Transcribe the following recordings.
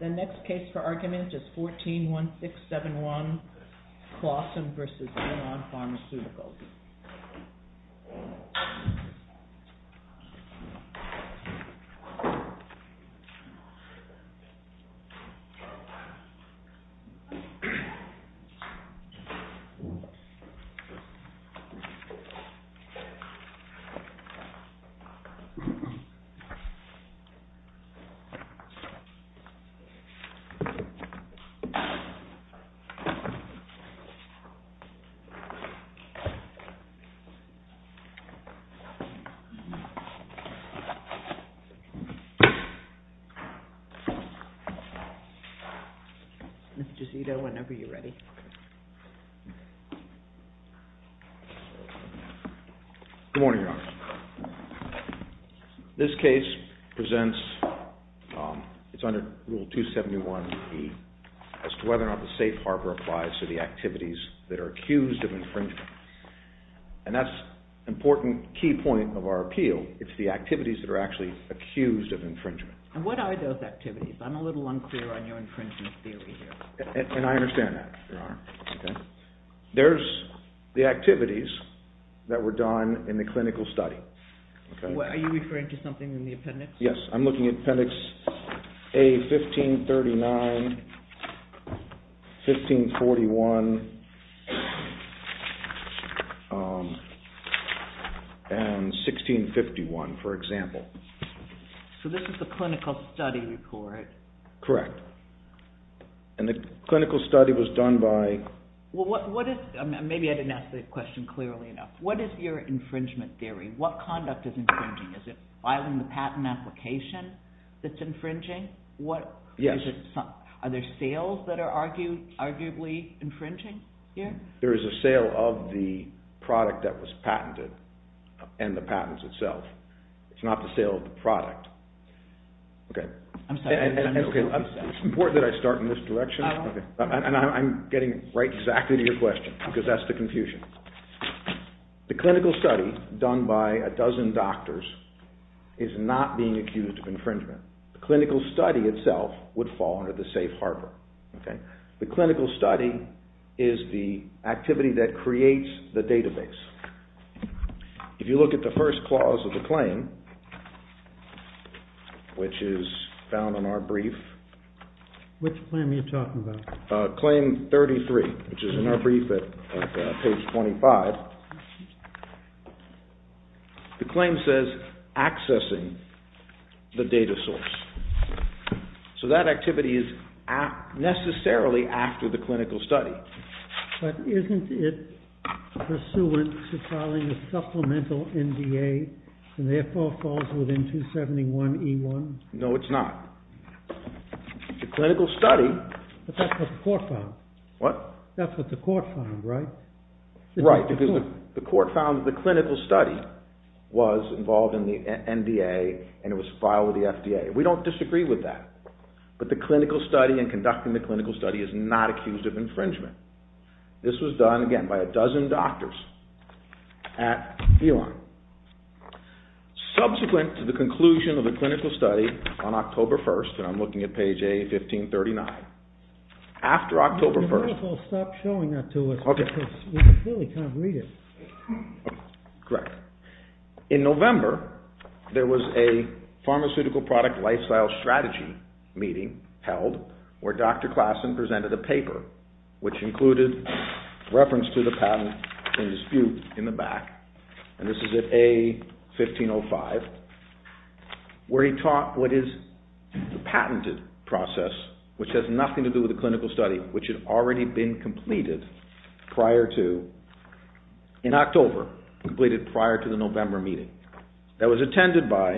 The next case for argument is 14-1671, Classen v. Elan Pharmaceuticals. 14-1671, Classen v. Elan Pharmaceuticals. Good morning, Your Honor. This case presents, it's under Rule 271B as to whether or not the safe harbor applies to the activities that are accused of infringement. And that's an important key point of our appeal. It's the activities that are actually accused of infringement. And what are those activities? I'm a little unclear on your infringement theory here. And I understand that, Your Honor. There's the activities that were done in the clinical study. Are you referring to something in the appendix? Yes, I'm looking at appendix A-1539, 1541, and 1651, for example. So this is the clinical study report? Correct. And the clinical study was done by... Maybe I didn't ask the question clearly enough. What is your infringement theory? What conduct is infringing? Is it filing the patent application that's infringing? Yes. Are there sales that are arguably infringing here? There is a sale of the product that was patented and the patents itself. It's not the sale of the product. I'm sorry. It's important that I start in this direction. And I'm getting right exactly to your question because that's the confusion. The clinical study done by a dozen doctors is not being accused of infringement. The clinical study itself would fall under the safe harbor. The clinical study is the activity that creates the database. If you look at the first clause of the claim, which is found in our brief... Which claim are you talking about? Claim 33, which is in our brief at page 25. The claim says, accessing the data source. So that activity is necessarily after the clinical study. But isn't it pursuant to filing a supplemental NDA and therefore falls within 271E1? No, it's not. The clinical study... But that's what the court found. What? That's what the court found, right? Right, because the court found that the clinical study was involved in the NDA and it was filed with the FDA. We don't disagree with that. But the clinical study and conducting the clinical study is not accused of infringement. This was done, again, by a dozen doctors at Elon. Subsequent to the conclusion of the clinical study on October 1st, and I'm looking at page A1539. After October 1st... Can you stop showing that to us? Okay. Because we really can't read it. Correct. In November, there was a pharmaceutical product lifestyle strategy meeting held where Dr. Klassen presented a paper, which included reference to the patent and dispute in the back. And this is at A1505, where he taught what is the patented process, which has nothing to do with the clinical study, which had already been completed in October, completed prior to the November meeting. That was attended by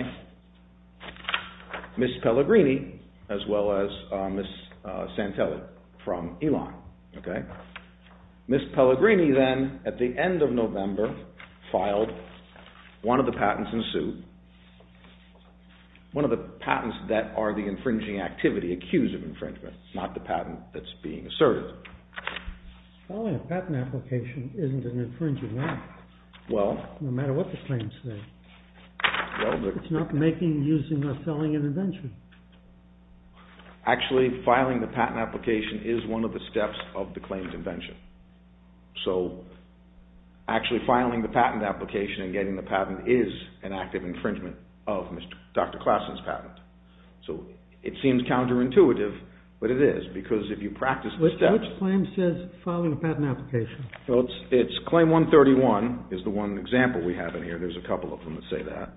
Ms. Pellegrini as well as Ms. Santelli from Elon. Ms. Pellegrini then, at the end of November, filed. One of the patents ensued. One of the patents that are the infringing activity, accused of infringement, not the patent that's being asserted. Filing a patent application isn't an infringing act, no matter what the claims say. It's not making, using, or selling an invention. Actually, filing the patent application is one of the steps of the claim convention. So, actually filing the patent application and getting the patent is an active infringement of Dr. Klassen's patent. So, it seems counterintuitive, but it is, because if you practice the steps... Which claim says filing a patent application? Well, it's claim 131, is the one example we have in here. There's a couple of them that say that.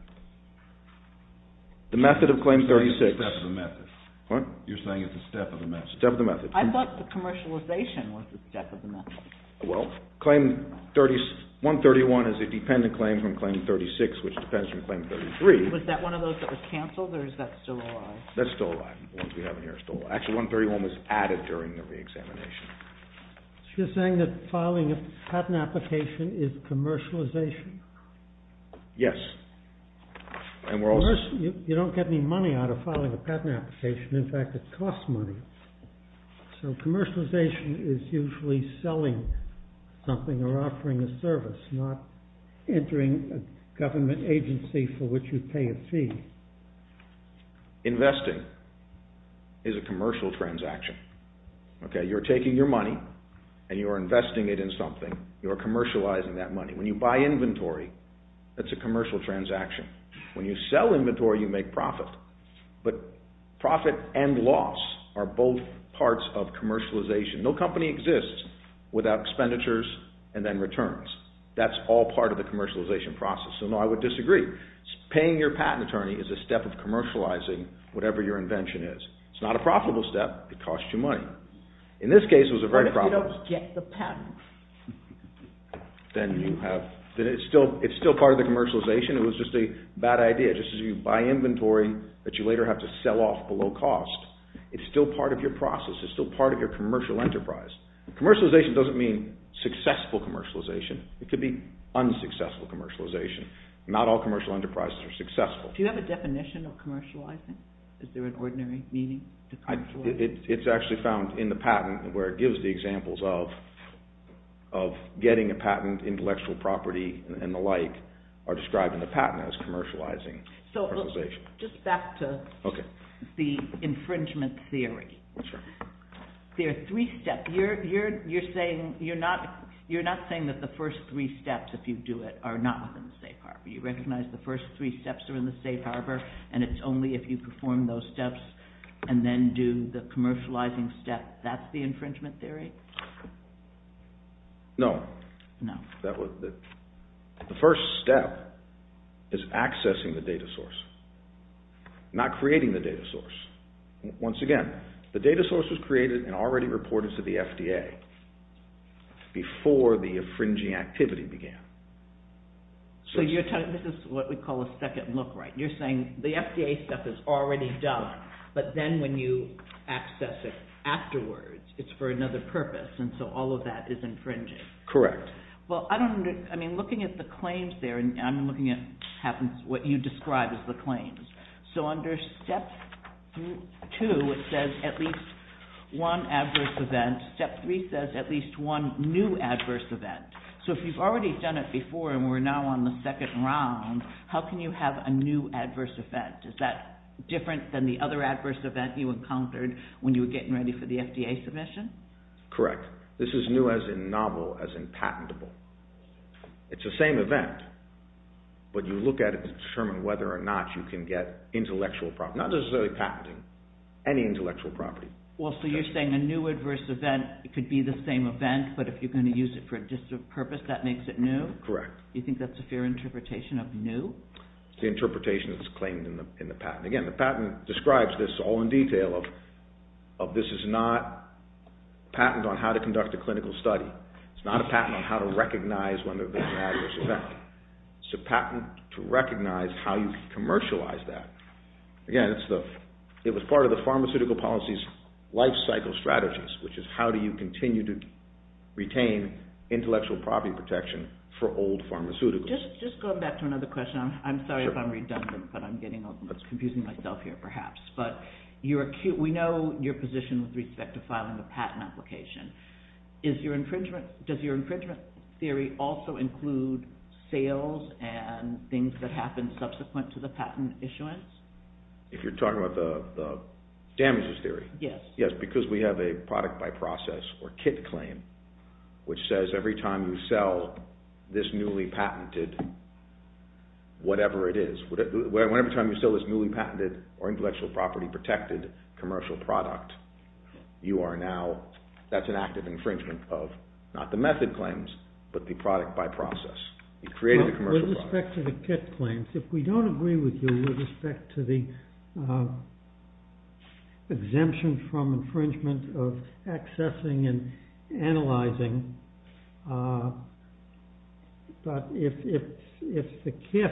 The method of claim 36. You're saying it's a step of the method. What? You're saying it's a step of the method. Step of the method. I thought the commercialization was the step of the method. Well, claim 131 is a dependent claim from claim 36, which depends from claim 33. Was that one of those that was canceled, or is that still alive? That's still alive. The ones we have in here are still alive. Actually, 131 was added during the re-examination. So, you're saying that filing a patent application is commercialization? Yes. You don't get any money out of filing a patent application. In fact, it costs money. So, commercialization is usually selling something or offering a service, not entering a government agency for which you pay a fee. Investing is a commercial transaction. You're taking your money, and you're investing it in something. You're commercializing that money. When you buy inventory, that's a commercial transaction. When you sell inventory, you make profit. But profit and loss are both parts of commercialization. No company exists without expenditures and then returns. That's all part of the commercialization process. So, no, I would disagree. Paying your patent attorney is a step of commercializing whatever your invention is. It's not a profitable step. It costs you money. In this case, it was a very profitable step. What if you don't get the patent? Then it's still part of the commercialization. It was just a bad idea. Just as you buy inventory that you later have to sell off below cost, it's still part of your process. It's still part of your commercial enterprise. Commercialization doesn't mean successful commercialization. It could be unsuccessful commercialization. Not all commercial enterprises are successful. Do you have a definition of commercializing? Is there an ordinary meaning to commercialization? It's actually found in the patent where it gives the examples of getting a patent, intellectual property, and the like, are described in the patent as commercializing commercialization. Just back to the infringement theory. There are three steps. You're not saying that the first three steps, if you do it, are not within the safe harbor. You recognize the first three steps are in the safe harbor, and it's only if you perform those steps and then do the commercializing step. That's the infringement theory? No. The first step is accessing the data source, not creating the data source. Once again, the data source was created and already reported to the FDA before the infringing activity began. This is what we call a second look right. You're saying the FDA stuff is already done, but then when you access it afterwards, it's for another purpose, and so all of that is infringing. Correct. Looking at the claims there, I'm looking at what you described as the claims. Under step two, it says at least one adverse event. Step three says at least one new adverse event. If you've already done it before and we're now on the second round, how can you have a new adverse event? Is that different than the other adverse event you encountered when you were getting ready for the FDA submission? Correct. This is new as in novel, as in patentable. It's the same event, but you look at it to determine whether or not you can get intellectual property, not necessarily patenting, any intellectual property. So you're saying a new adverse event could be the same event, but if you're going to use it for a different purpose, that makes it new? Correct. You think that's a fair interpretation of new? It's the interpretation that's claimed in the patent. Again, the patent describes this all in detail of this is not a patent on how to conduct a clinical study. It's not a patent on how to recognize when there's an adverse event. It's a patent to recognize how you commercialize that. Again, it was part of the pharmaceutical policy's lifecycle strategies, which is how do you continue to retain intellectual property protection for old pharmaceuticals? Just going back to another question. I'm sorry if I'm redundant, but I'm confusing myself here perhaps. But we know your position with respect to filing a patent application. Does your infringement theory also include sales and things that happen subsequent to the patent issuance? If you're talking about the damages theory? Yes. Yes, because we have a product by process or kit claim, which says every time you sell this newly patented whatever it is, every time you sell this newly patented or intellectual property protected commercial product, you are now, that's an act of infringement of not the method claims, but the product by process. You created a commercial product. With respect to the kit claims, if we don't agree with you with respect to the exemption from infringement of accessing and analyzing, but if the kit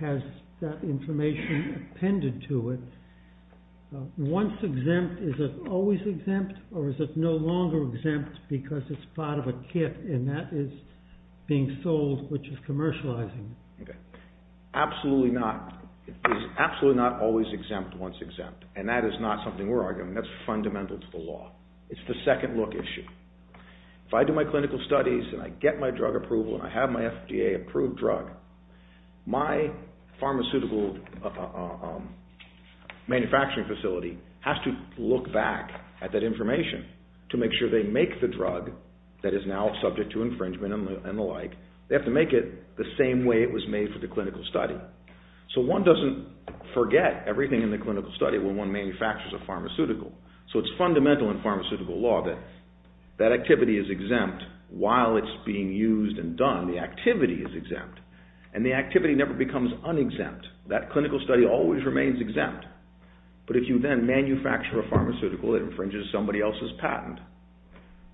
has that information appended to it, once exempt is it always exempt or is it no longer exempt because it's part of a kit and that is being sold, which is commercializing? Absolutely not. It's absolutely not always exempt once exempt, and that is not something we're arguing. That's fundamental to the law. It's the second look issue. If I do my clinical studies and I get my drug approval and I have my FDA approved drug, my pharmaceutical manufacturing facility has to look back at that information to make sure they make the drug that is now subject to infringement and the like, they have to make it the same way it was made for the clinical study. So one doesn't forget everything in the clinical study when one manufactures a pharmaceutical. So it's fundamental in pharmaceutical law that that activity is exempt while it's being used and done. The activity is exempt, and the activity never becomes unexempt. That clinical study always remains exempt, but if you then manufacture a pharmaceutical that infringes somebody else's patent,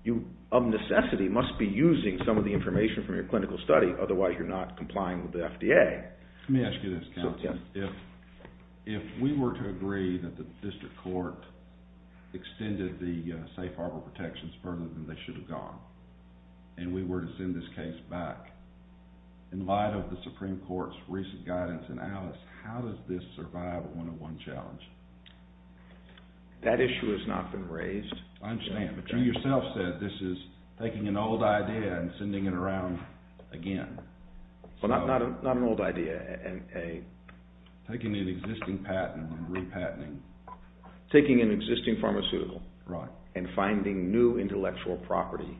you of necessity must be using some of the information from your clinical study, otherwise you're not complying with the FDA. Let me ask you this, Councilman. If we were to agree that the district court extended the safe harbor protections further than they should have gone and we were to send this case back, in light of the Supreme Court's recent guidance in Alice, how does this survive a one-on-one challenge? That issue has not been raised. I understand, but you yourself said this is taking an old idea and sending it around again. Well, not an old idea. Taking an existing patent and repatenting. Taking an existing pharmaceutical and finding new intellectual property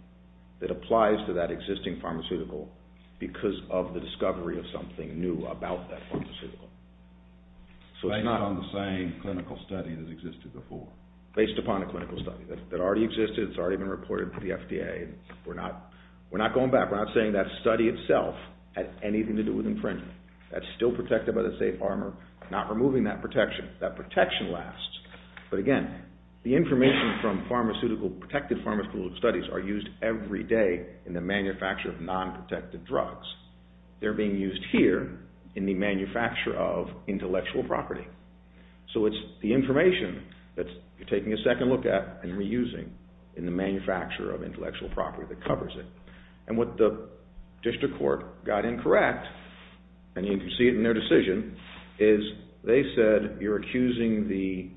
that applies to that existing pharmaceutical because of the discovery of something new about that pharmaceutical. So it's not on the same clinical study that existed before. Based upon a clinical study that already existed, it's already been reported to the FDA. We're not going back. We're not saying that study itself had anything to do with infringement. That's still protected by the safe harbor. We're not removing that protection. That protection lasts. But again, the information from pharmaceutical, protected pharmaceutical studies are used every day in the manufacture of non-protective drugs. They're being used here in the manufacture of intellectual property. So it's the information that you're taking a second look at and reusing in the manufacture of intellectual property that covers it. And what the district court got incorrect, and you can see it in their decision, is they said you're accusing the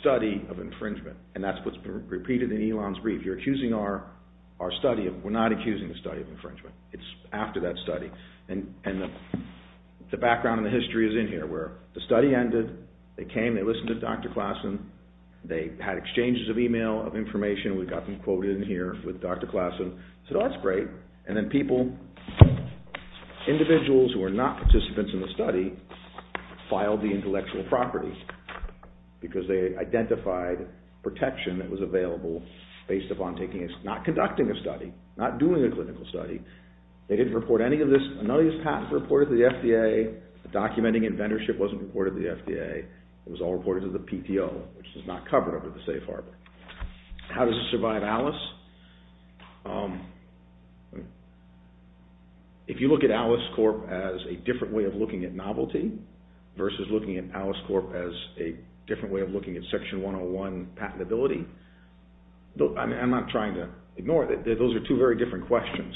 study of infringement. And that's what's been repeated in Elon's brief. You're accusing our study. We're not accusing the study of infringement. It's after that study. And the background and the history is in here where the study ended, they came, they listened to Dr. Klassen, they had exchanges of email, of information. We've got them quoted in here with Dr. Klassen. So that's great. And then people, individuals who are not participants in the study, filed the intellectual property because they identified protection that was available based upon taking a study, not conducting a study, not doing a clinical study. They didn't report any of this. None of these patents were reported to the FDA. Documenting and vendorship wasn't reported to the FDA. It was all reported to the PTO, which was not covered under the safe harbor. How does it survive ALICE? If you look at ALICE Corp. as a different way of looking at novelty versus looking at ALICE Corp. as a different way of looking at Section 101 patentability, I'm not trying to ignore it. Those are two very different questions.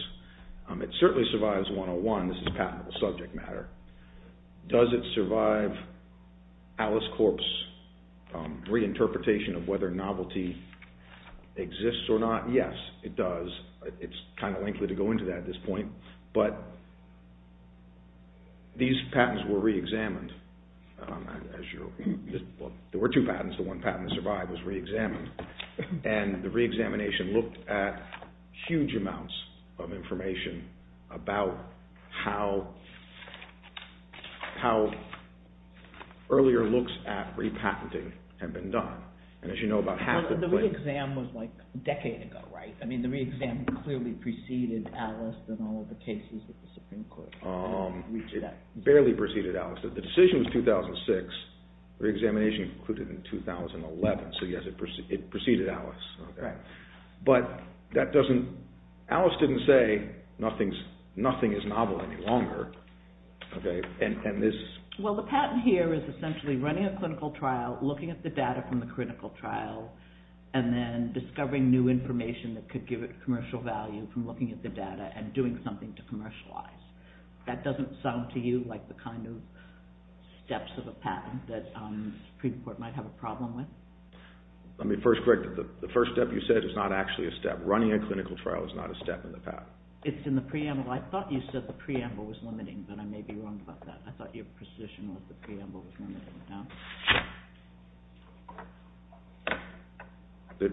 It certainly survives 101. This is patentable subject matter. Does it survive ALICE Corp.'s reinterpretation of whether novelty exists or not? Yes, it does. It's kind of lengthy to go into that at this point. But these patents were reexamined. There were two patents. The one patent that survived was reexamined. And the reexamination looked at huge amounts of information about how earlier looks at repatenting have been done. The reexam was like a decade ago, right? The reexam clearly preceded ALICE in all of the cases that the Supreme Court reached out. It barely preceded ALICE. The decision was 2006. The reexamination concluded in 2011. So yes, it preceded ALICE. But ALICE didn't say nothing is novel any longer. Well, the patent here is essentially running a clinical trial, looking at the data from the clinical trial, and then discovering new information that could give it commercial value from looking at the data and doing something to commercialize. That doesn't sound to you like the kind of steps of a patent that the Supreme Court might have a problem with? Let me first correct you. The first step you said is not actually a step. Running a clinical trial is not a step in the patent. It's in the preamble. I thought you said the preamble was limiting, but I may be wrong about that. I thought your position was the preamble was limiting. The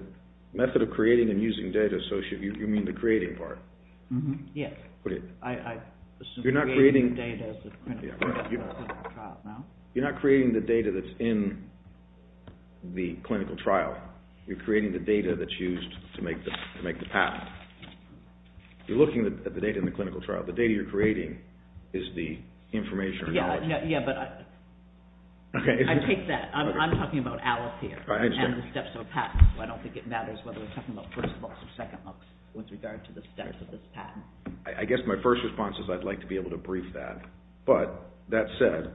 method of creating and using data, so you mean the creating part? Yes. You're not creating the data that's in the clinical trial? You're creating the data that's used to make the patent. You're looking at the data in the clinical trial. The data you're creating is the information or knowledge. Yes, but I take that. I'm talking about ALICE here and the steps of a patent, so I don't think it matters whether we're talking about first books or second books with regard to the steps of this patent. I guess my first response is I'd like to be able to brief that. But that said,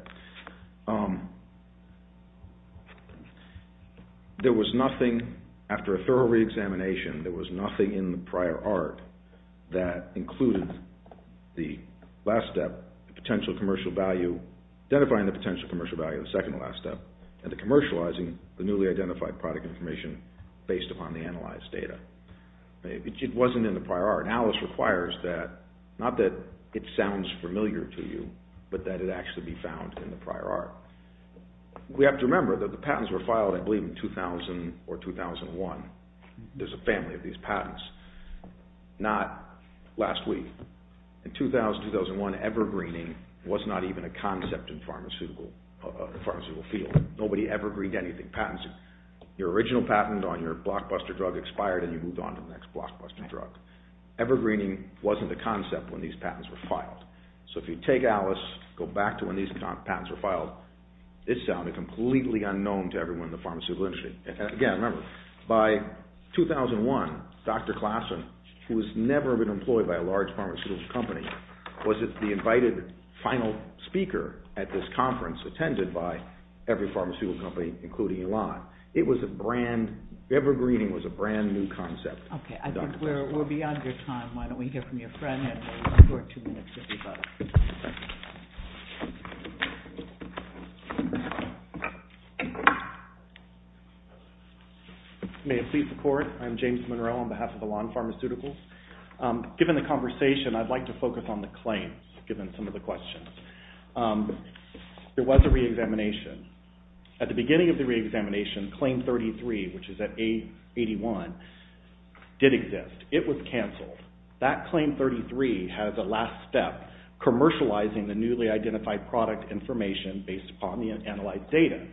there was nothing, after a thorough reexamination, there was nothing in the prior art that included the last step, the potential commercial value, identifying the potential commercial value of the second to last step, and the commercializing the newly identified product information based upon the analyzed data. It wasn't in the prior art. And ALICE requires that, not that it sounds familiar to you, but that it actually be found in the prior art. We have to remember that the patents were filed, I believe, in 2000 or 2001. There's a family of these patents. Not last week. In 2000, 2001, evergreening was not even a concept in the pharmaceutical field. Nobody evergreened anything. Patents, your original patent on your blockbuster drug expired and you moved on to the next blockbuster drug. Evergreening wasn't a concept when these patents were filed. So if you take ALICE, go back to when these patents were filed, it sounded completely unknown to everyone in the pharmaceutical industry. Again, remember, by 2001, Dr. Klassen, who has never been employed by a large pharmaceutical company, was the invited final speaker at this conference attended by every pharmaceutical company, including Elon. It was a brand, evergreening was a brand new concept. Okay, I think we're beyond your time. Why don't we hear from your friend and we'll record two minutes if you'd like. May it please the Court. I'm James Monroe on behalf of Elon Pharmaceuticals. Given the conversation, I'd like to focus on the claims, given some of the questions. There was a reexamination. At the beginning of the reexamination, Claim 33, which is at A81, did exist. It was cancelled. That Claim 33 has a last step, commercializing the newly identified product information based upon the analyzed data.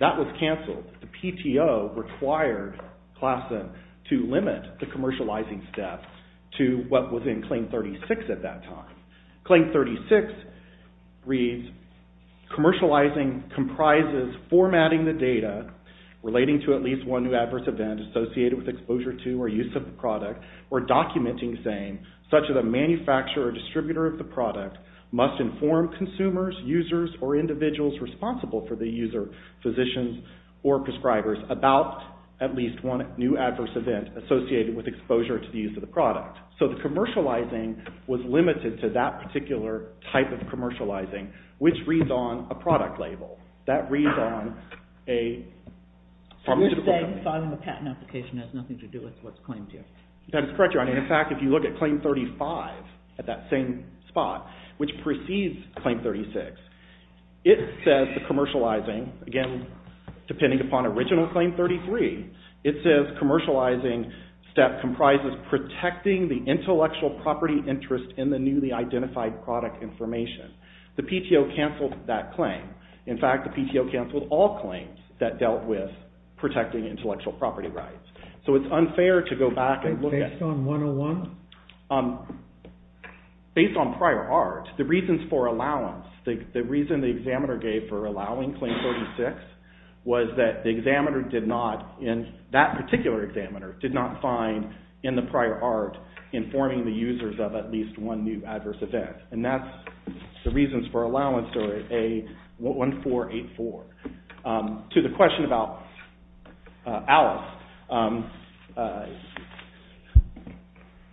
That was cancelled. The PTO required Klassen to limit the commercializing step to what was in Claim 36 at that time. Claim 36 reads, Commercializing comprises formatting the data relating to at least one new adverse event associated with exposure to or use of the product, or documenting saying, such as a manufacturer or distributor of the product must inform consumers, users, or individuals responsible for the user, physicians, or prescribers about at least one new adverse event associated with exposure to the use of the product. So the commercializing was limited to that particular type of commercializing, which reads on a product label. That reads on a... So you're saying filing a patent application has nothing to do with what's claimed here. That is correct, Your Honor. In fact, if you look at Claim 35 at that same spot, which precedes Claim 36, it says the commercializing, again, depending upon original Claim 33, it says commercializing step comprises protecting the intellectual property interest in the newly identified product information. The PTO canceled that claim. In fact, the PTO canceled all claims that dealt with protecting intellectual property rights. So it's unfair to go back and look at... Based on 101? Based on prior art. The reasons for allowance, the reason the examiner gave for allowing Claim 36 was that the examiner did not, in that particular examiner, did not find in the prior art informing the users of at least one new adverse event. And that's the reasons for allowance, or A-1484. To the question about Alice,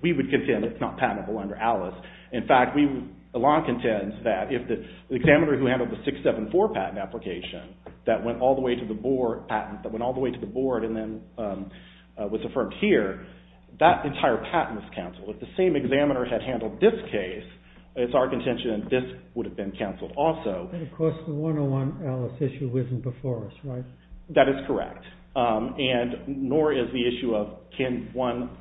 we would contend it's not patentable under Alice. In fact, Alon contends that if the examiner who handled the 674 patent application that went all the way to the board patent, and then was affirmed here, that entire patent was canceled. If the same examiner had handled this case, it's our contention that this would have been canceled also. But of course the 101 Alice issue wasn't before us, right? That is correct. And nor is the issue of can one...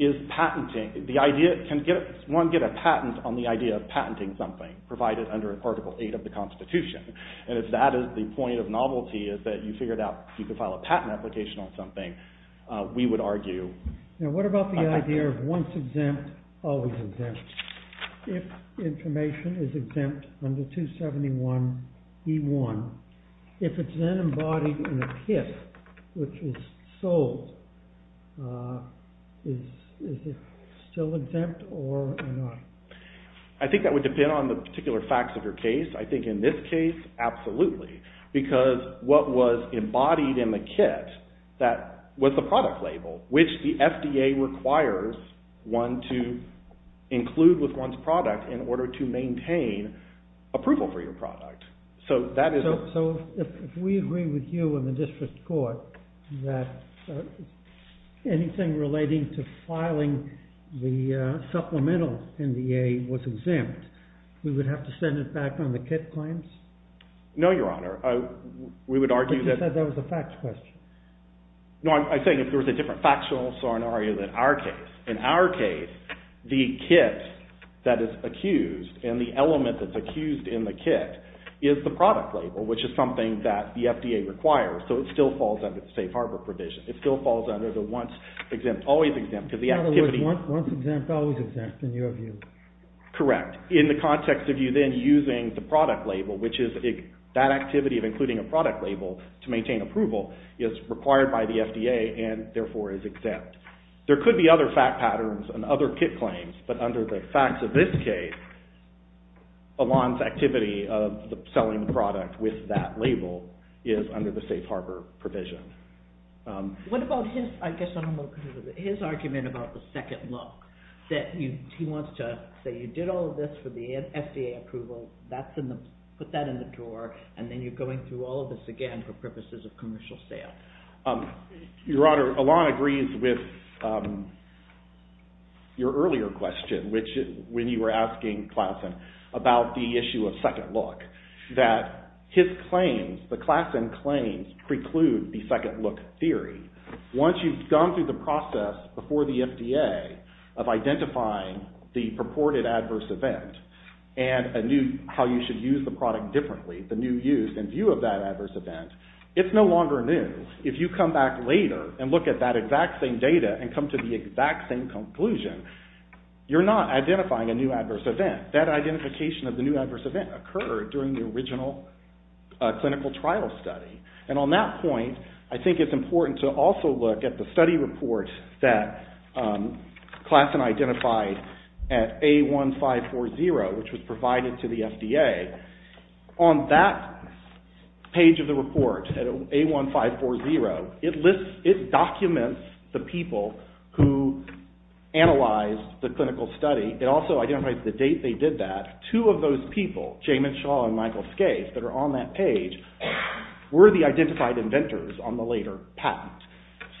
Is patenting... Can one get a patent on the idea of patenting something, provided under Article 8 of the Constitution? And if that is the point of novelty, that you figured out you could file a patent application on something, we would argue... Now what about the idea of once exempt, always exempt? If information is exempt under 271E1, if it's then embodied in a PIF, which is sold, is it still exempt or not? I think that would depend on the particular facts of your case. I think in this case, absolutely. Because what was embodied in the kit, that was the product label, which the FDA requires one to include with one's product in order to maintain approval for your product. So if we agree with you and the district court that anything relating to filing the supplemental NDA was exempt, we would have to send it back on the kit claims? No, Your Honor. We would argue that... But you said that was a facts question. No, I'm saying if there was a different factual scenario than our case. In our case, the kit that is accused, and the element that's accused in the kit, is the product label, which is something that the FDA requires, so it still falls under the safe harbor provision. It still falls under the once exempt, always exempt, because the activity... In other words, once exempt, always exempt, in your view. Correct. In the context of you then using the product label, which is that activity of including a product label to maintain approval, is required by the FDA and therefore is exempt. There could be other fact patterns and other kit claims, but under the facts of this case, Alon's activity of selling the product with that label is under the safe harbor provision. What about his argument about the second look, that he wants to say you did all of this for the FDA approval, put that in the drawer, and then you're going through all of this again for purposes of commercial sale? Your Honor, Alon agrees with your earlier question, when you were asking Classen about the issue of second look, that his claims, the Classen claims, preclude the second look theory. Once you've gone through the process before the FDA of identifying the purported adverse event and how you should use the product differently, the new use and view of that adverse event, it's no longer new. If you come back later and look at that exact same data and come to the exact same conclusion, you're not identifying a new adverse event. That identification of the new adverse event occurred during the original clinical trial study. And on that point, I think it's important to also look at the study report that Classen identified at A1540, which was provided to the FDA. On that page of the report, at A1540, it documents the people who analyzed the clinical study. It also identifies the date they did that. Two of those people, Jamin Shaw and Michael Scaife, that are on that page were the identified inventors on the later patent.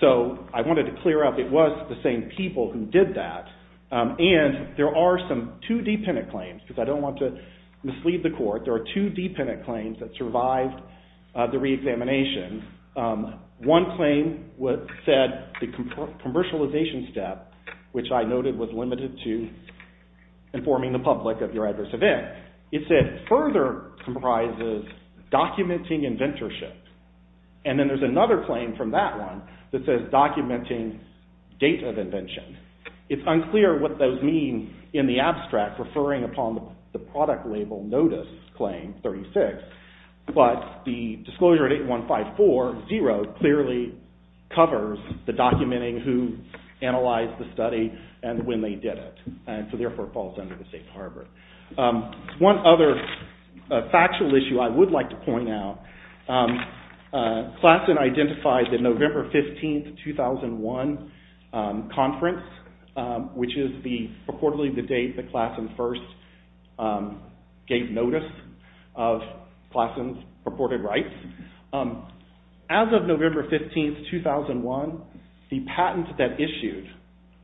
So I wanted to clear up it was the same people who did that. And there are some two dependent claims, because I don't want to mislead the court. There are two dependent claims that survived the reexamination. One claim said the commercialization step, which I noted was limited to informing the public of your adverse event. It said further comprises documenting inventorship. And then there's another claim from that one that says documenting date of invention. It's unclear what those mean in the abstract referring upon the product label notice claim 36, but the disclosure at A1540 clearly covers the documenting who analyzed the study and when they did it. So therefore, it falls under the safe harbor. One other factual issue I would like to point out. Klassen identified the November 15, 2001 conference, which is purportedly the date that Klassen first gave notice of Klassen's purported rights. As of November 15, 2001, the patent that issued,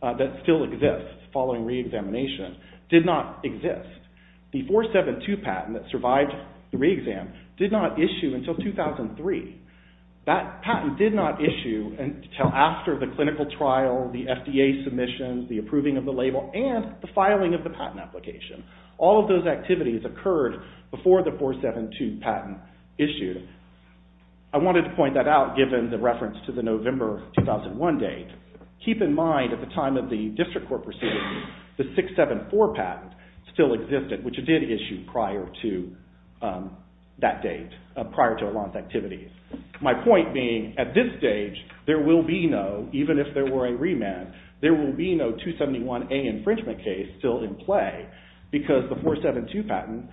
that still exists following reexamination, did not exist. The 472 patent that survived the reexam did not issue until 2003. That patent did not issue until after the clinical trial, the FDA submission, the approving of the label, and the filing of the patent application. All of those activities occurred before the 472 patent issued. I wanted to point that out given the reference to the November 2001 date. Keep in mind, at the time of the district court proceedings, the 674 patent still existed, which it did issue prior to that date, prior to Alon's activities. My point being, at this stage, there will be no, even if there were a remand, there will be no 271A infringement case still in play because the 472 patent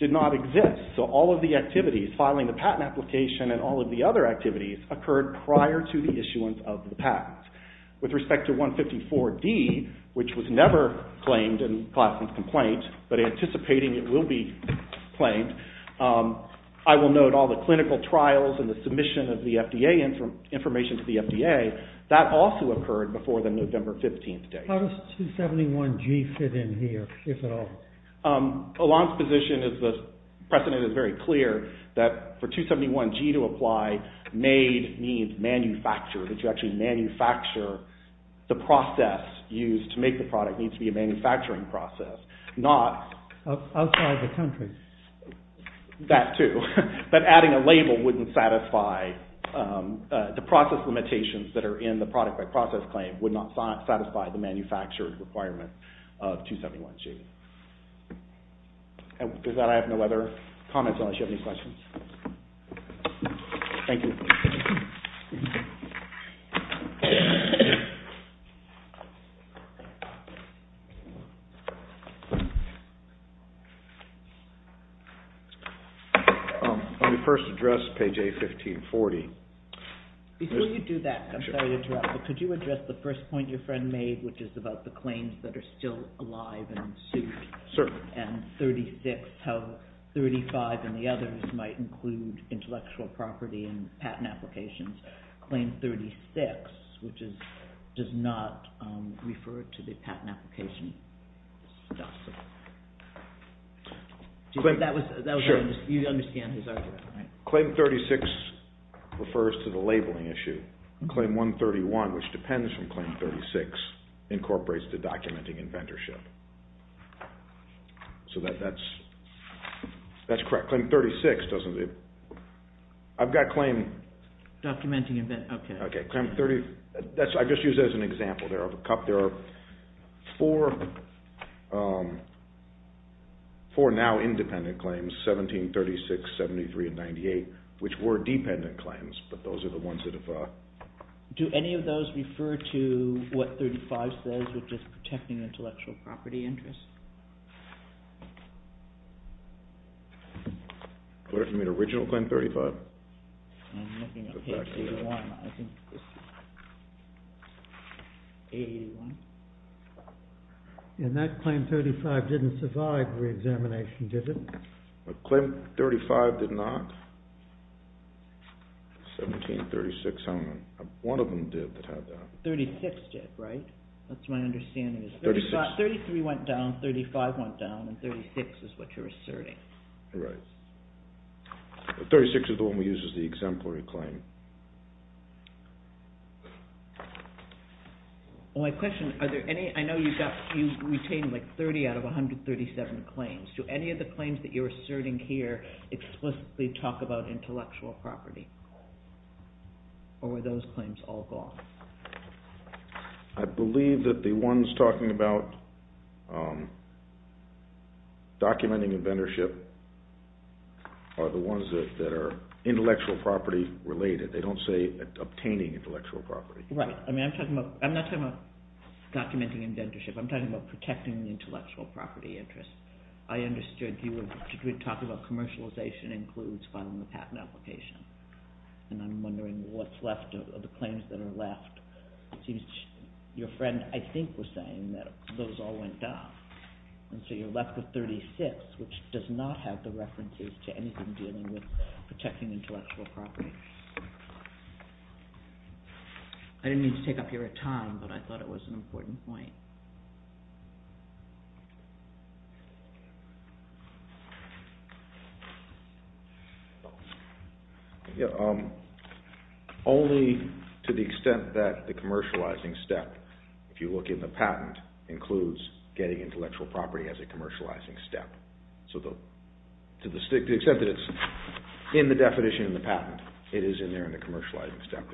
did not exist. So all of the activities, filing the patent application and all of the other activities, occurred prior to the issuance of the patent. With respect to 154D, which was never claimed in Klassen's complaint, but anticipating it will be claimed, I will note all the clinical trials and the submission of the FDA information to the FDA, that also occurred before the November 15th date. How does 271G fit in here, if at all? Alon's position is the precedent is very clear that for 271G to apply, made means manufactured. That you actually manufacture the process used to make the product needs to be a manufacturing process, not… Outside the country. That too. But adding a label wouldn't satisfy the process limitations that are in the product by process claim, would not satisfy the manufactured requirement of 271G. With that, I have no other comments unless you have any questions. Thank you. Let me first address page A1540. Before you do that, I'm sorry to interrupt, but could you address the first point your friend made, which is about the claims that are still alive and in suit? Certainly. And 36, how 35 and the others might include intellectual property and patent applications. Claim 36, which does not refer to the patent application stuff. But that was… Sure. You understand his argument, right? Claim 36 refers to the labeling issue. Claim 131, which depends from Claim 36, incorporates the documenting inventorship. So that's correct. Claim 36 doesn't… I've got claim… Documenting inventorship. Okay. I just used that as an example. There are four now independent claims, 17, 36, 73, and 98, which were dependent claims, but those are the ones that have… Do any of those refer to what 35 says, which is protecting intellectual property interests? What if you mean original Claim 35? And that Claim 35 didn't survive reexamination, did it? Claim 35 did not. 17, 36, how many? One of them did that had that. 36 did, right? That's my understanding. 36. 33 went down, 35 went down, and 36 is what you're asserting. Right. 36 is the one we use as the exemplary claim. My question, are there any… I know you've retained like 30 out of 137 claims. Do any of the claims that you're asserting here explicitly talk about intellectual property, or were those claims all gone? I believe that the ones talking about documenting inventorship are the ones that are intellectual property related. They don't say obtaining intellectual property. Right. I mean, I'm talking about… I'm not talking about documenting inventorship. I'm talking about protecting the intellectual property interest. I understood you were talking about commercialization includes filing the patent application, and I'm wondering what's left of the claims that are left. It seems your friend, I think, was saying that those all went down, and so you're left with 36, which does not have the references to anything dealing with protecting intellectual property. I didn't mean to take up your time, but I thought it was an important point. Only to the extent that the commercializing step, if you look in the patent, includes getting intellectual property as a commercializing step. To the extent that it's in the definition in the patent, it is in there in the commercializing step.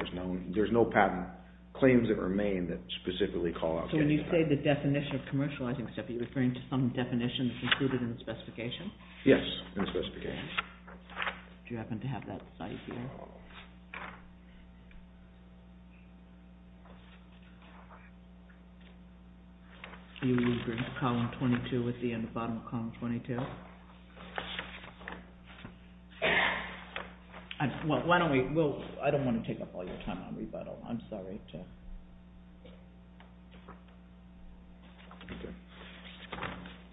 There's no patent claims that remain that specifically call out getting intellectual property. So when you say the definition of commercializing step, are you referring to some definition that's included in the specification? Yes, in the specification. Do you happen to have that site here? I don't want to take up all your time on rebuttal. I'm sorry.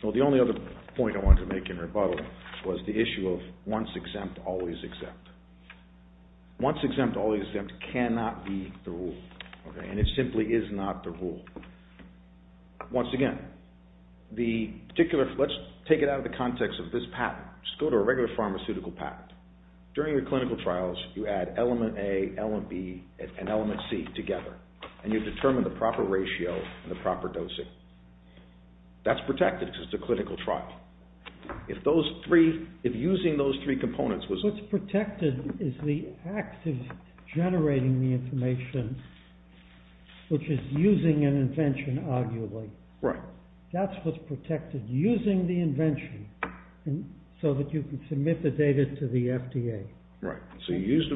The only other point I wanted to make in rebuttal was the issue of once exempt, always exempt. Once exempt, always exempt cannot be the rule, and it simply is not the rule. Once again, let's take it out of the context of this patent. Just go to a regular pharmaceutical patent. During your clinical trials, you add element A, element B, and element C together, and you determine the proper ratio and the proper dosing. That's protected because it's a clinical trial. If using those three components was... What's protected is the act of generating the information, which is using an invention, arguably. Right. That's what's protected, using the invention so that you can submit the data to the FDA. Right. So you use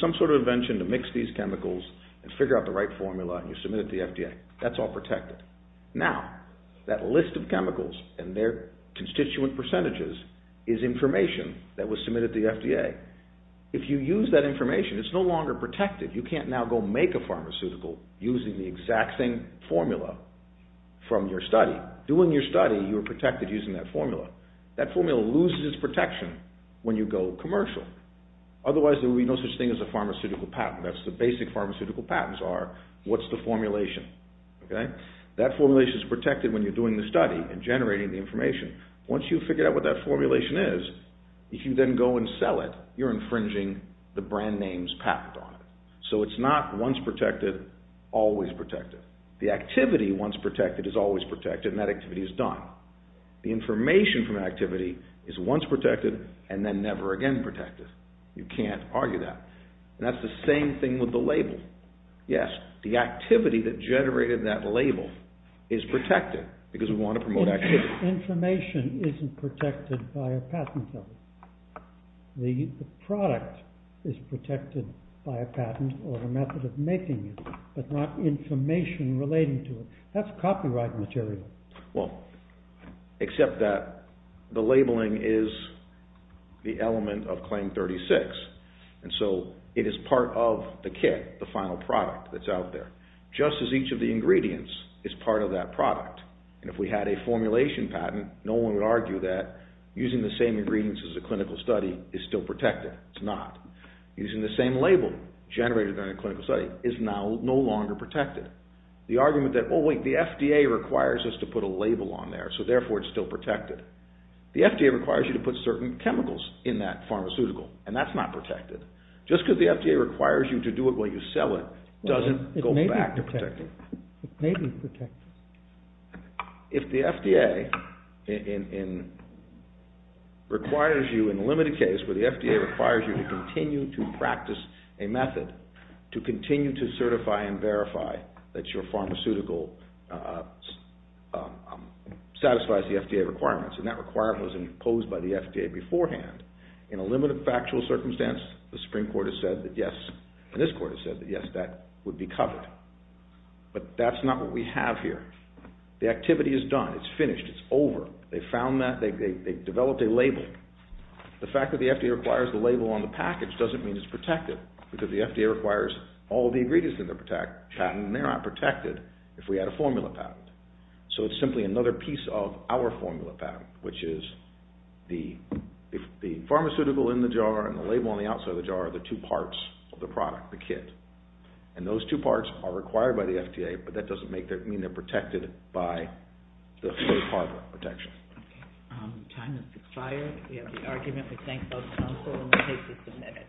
some sort of invention to mix these chemicals and figure out the right formula, and you submit it to the FDA. That's all protected. Now, that list of chemicals and their constituent percentages is information that was submitted to the FDA. If you use that information, it's no longer protected. You can't now go make a pharmaceutical using the exact same formula from your study. Doing your study, you are protected using that formula. That formula loses its protection when you go commercial. Otherwise, there would be no such thing as a pharmaceutical patent. That's the basic pharmaceutical patents are, what's the formulation? Okay. That formulation is protected when you're doing the study and generating the information. Once you figure out what that formulation is, if you then go and sell it, you're infringing the brand name's patent on it. So it's not once protected, always protected. The activity once protected is always protected, and that activity is done. The information from activity is once protected and then never again protected. You can't argue that. And that's the same thing with the label. Yes, the activity that generated that label is protected because we want to promote activity. The information isn't protected by a patent though. The product is protected by a patent or a method of making it, but not information relating to it. That's copyright material. Well, except that the labeling is the element of Claim 36, and so it is part of the kit, the final product that's out there, just as each of the ingredients is part of that product. And if we had a formulation patent, no one would argue that using the same ingredients as a clinical study is still protected. It's not. Using the same label generated in a clinical study is now no longer protected. The argument that, oh, wait, the FDA requires us to put a label on there, so therefore it's still protected. The FDA requires you to put certain chemicals in that pharmaceutical, and that's not protected. Just because the FDA requires you to do it while you sell it doesn't go back to protecting it. It may be protected. If the FDA requires you in a limited case where the FDA requires you to continue to practice a method, to continue to certify and verify that your pharmaceutical satisfies the FDA requirements, and that requirement was imposed by the FDA beforehand, in a limited factual circumstance the Supreme Court has said that yes, but that's not what we have here. The activity is done. It's finished. It's over. They've found that. They've developed a label. The fact that the FDA requires the label on the package doesn't mean it's protected because the FDA requires all the ingredients in the patent, and they're not protected if we had a formula patent. So it's simply another piece of our formula patent, which is the pharmaceutical in the jar and the label on the outside of the jar are the two parts of the product, the kit, and those two parts are required by the FDA, but that doesn't mean they're protected by the third-party protection. Okay. Time has expired. We have the argument. We thank both counsel, and we'll take a minute.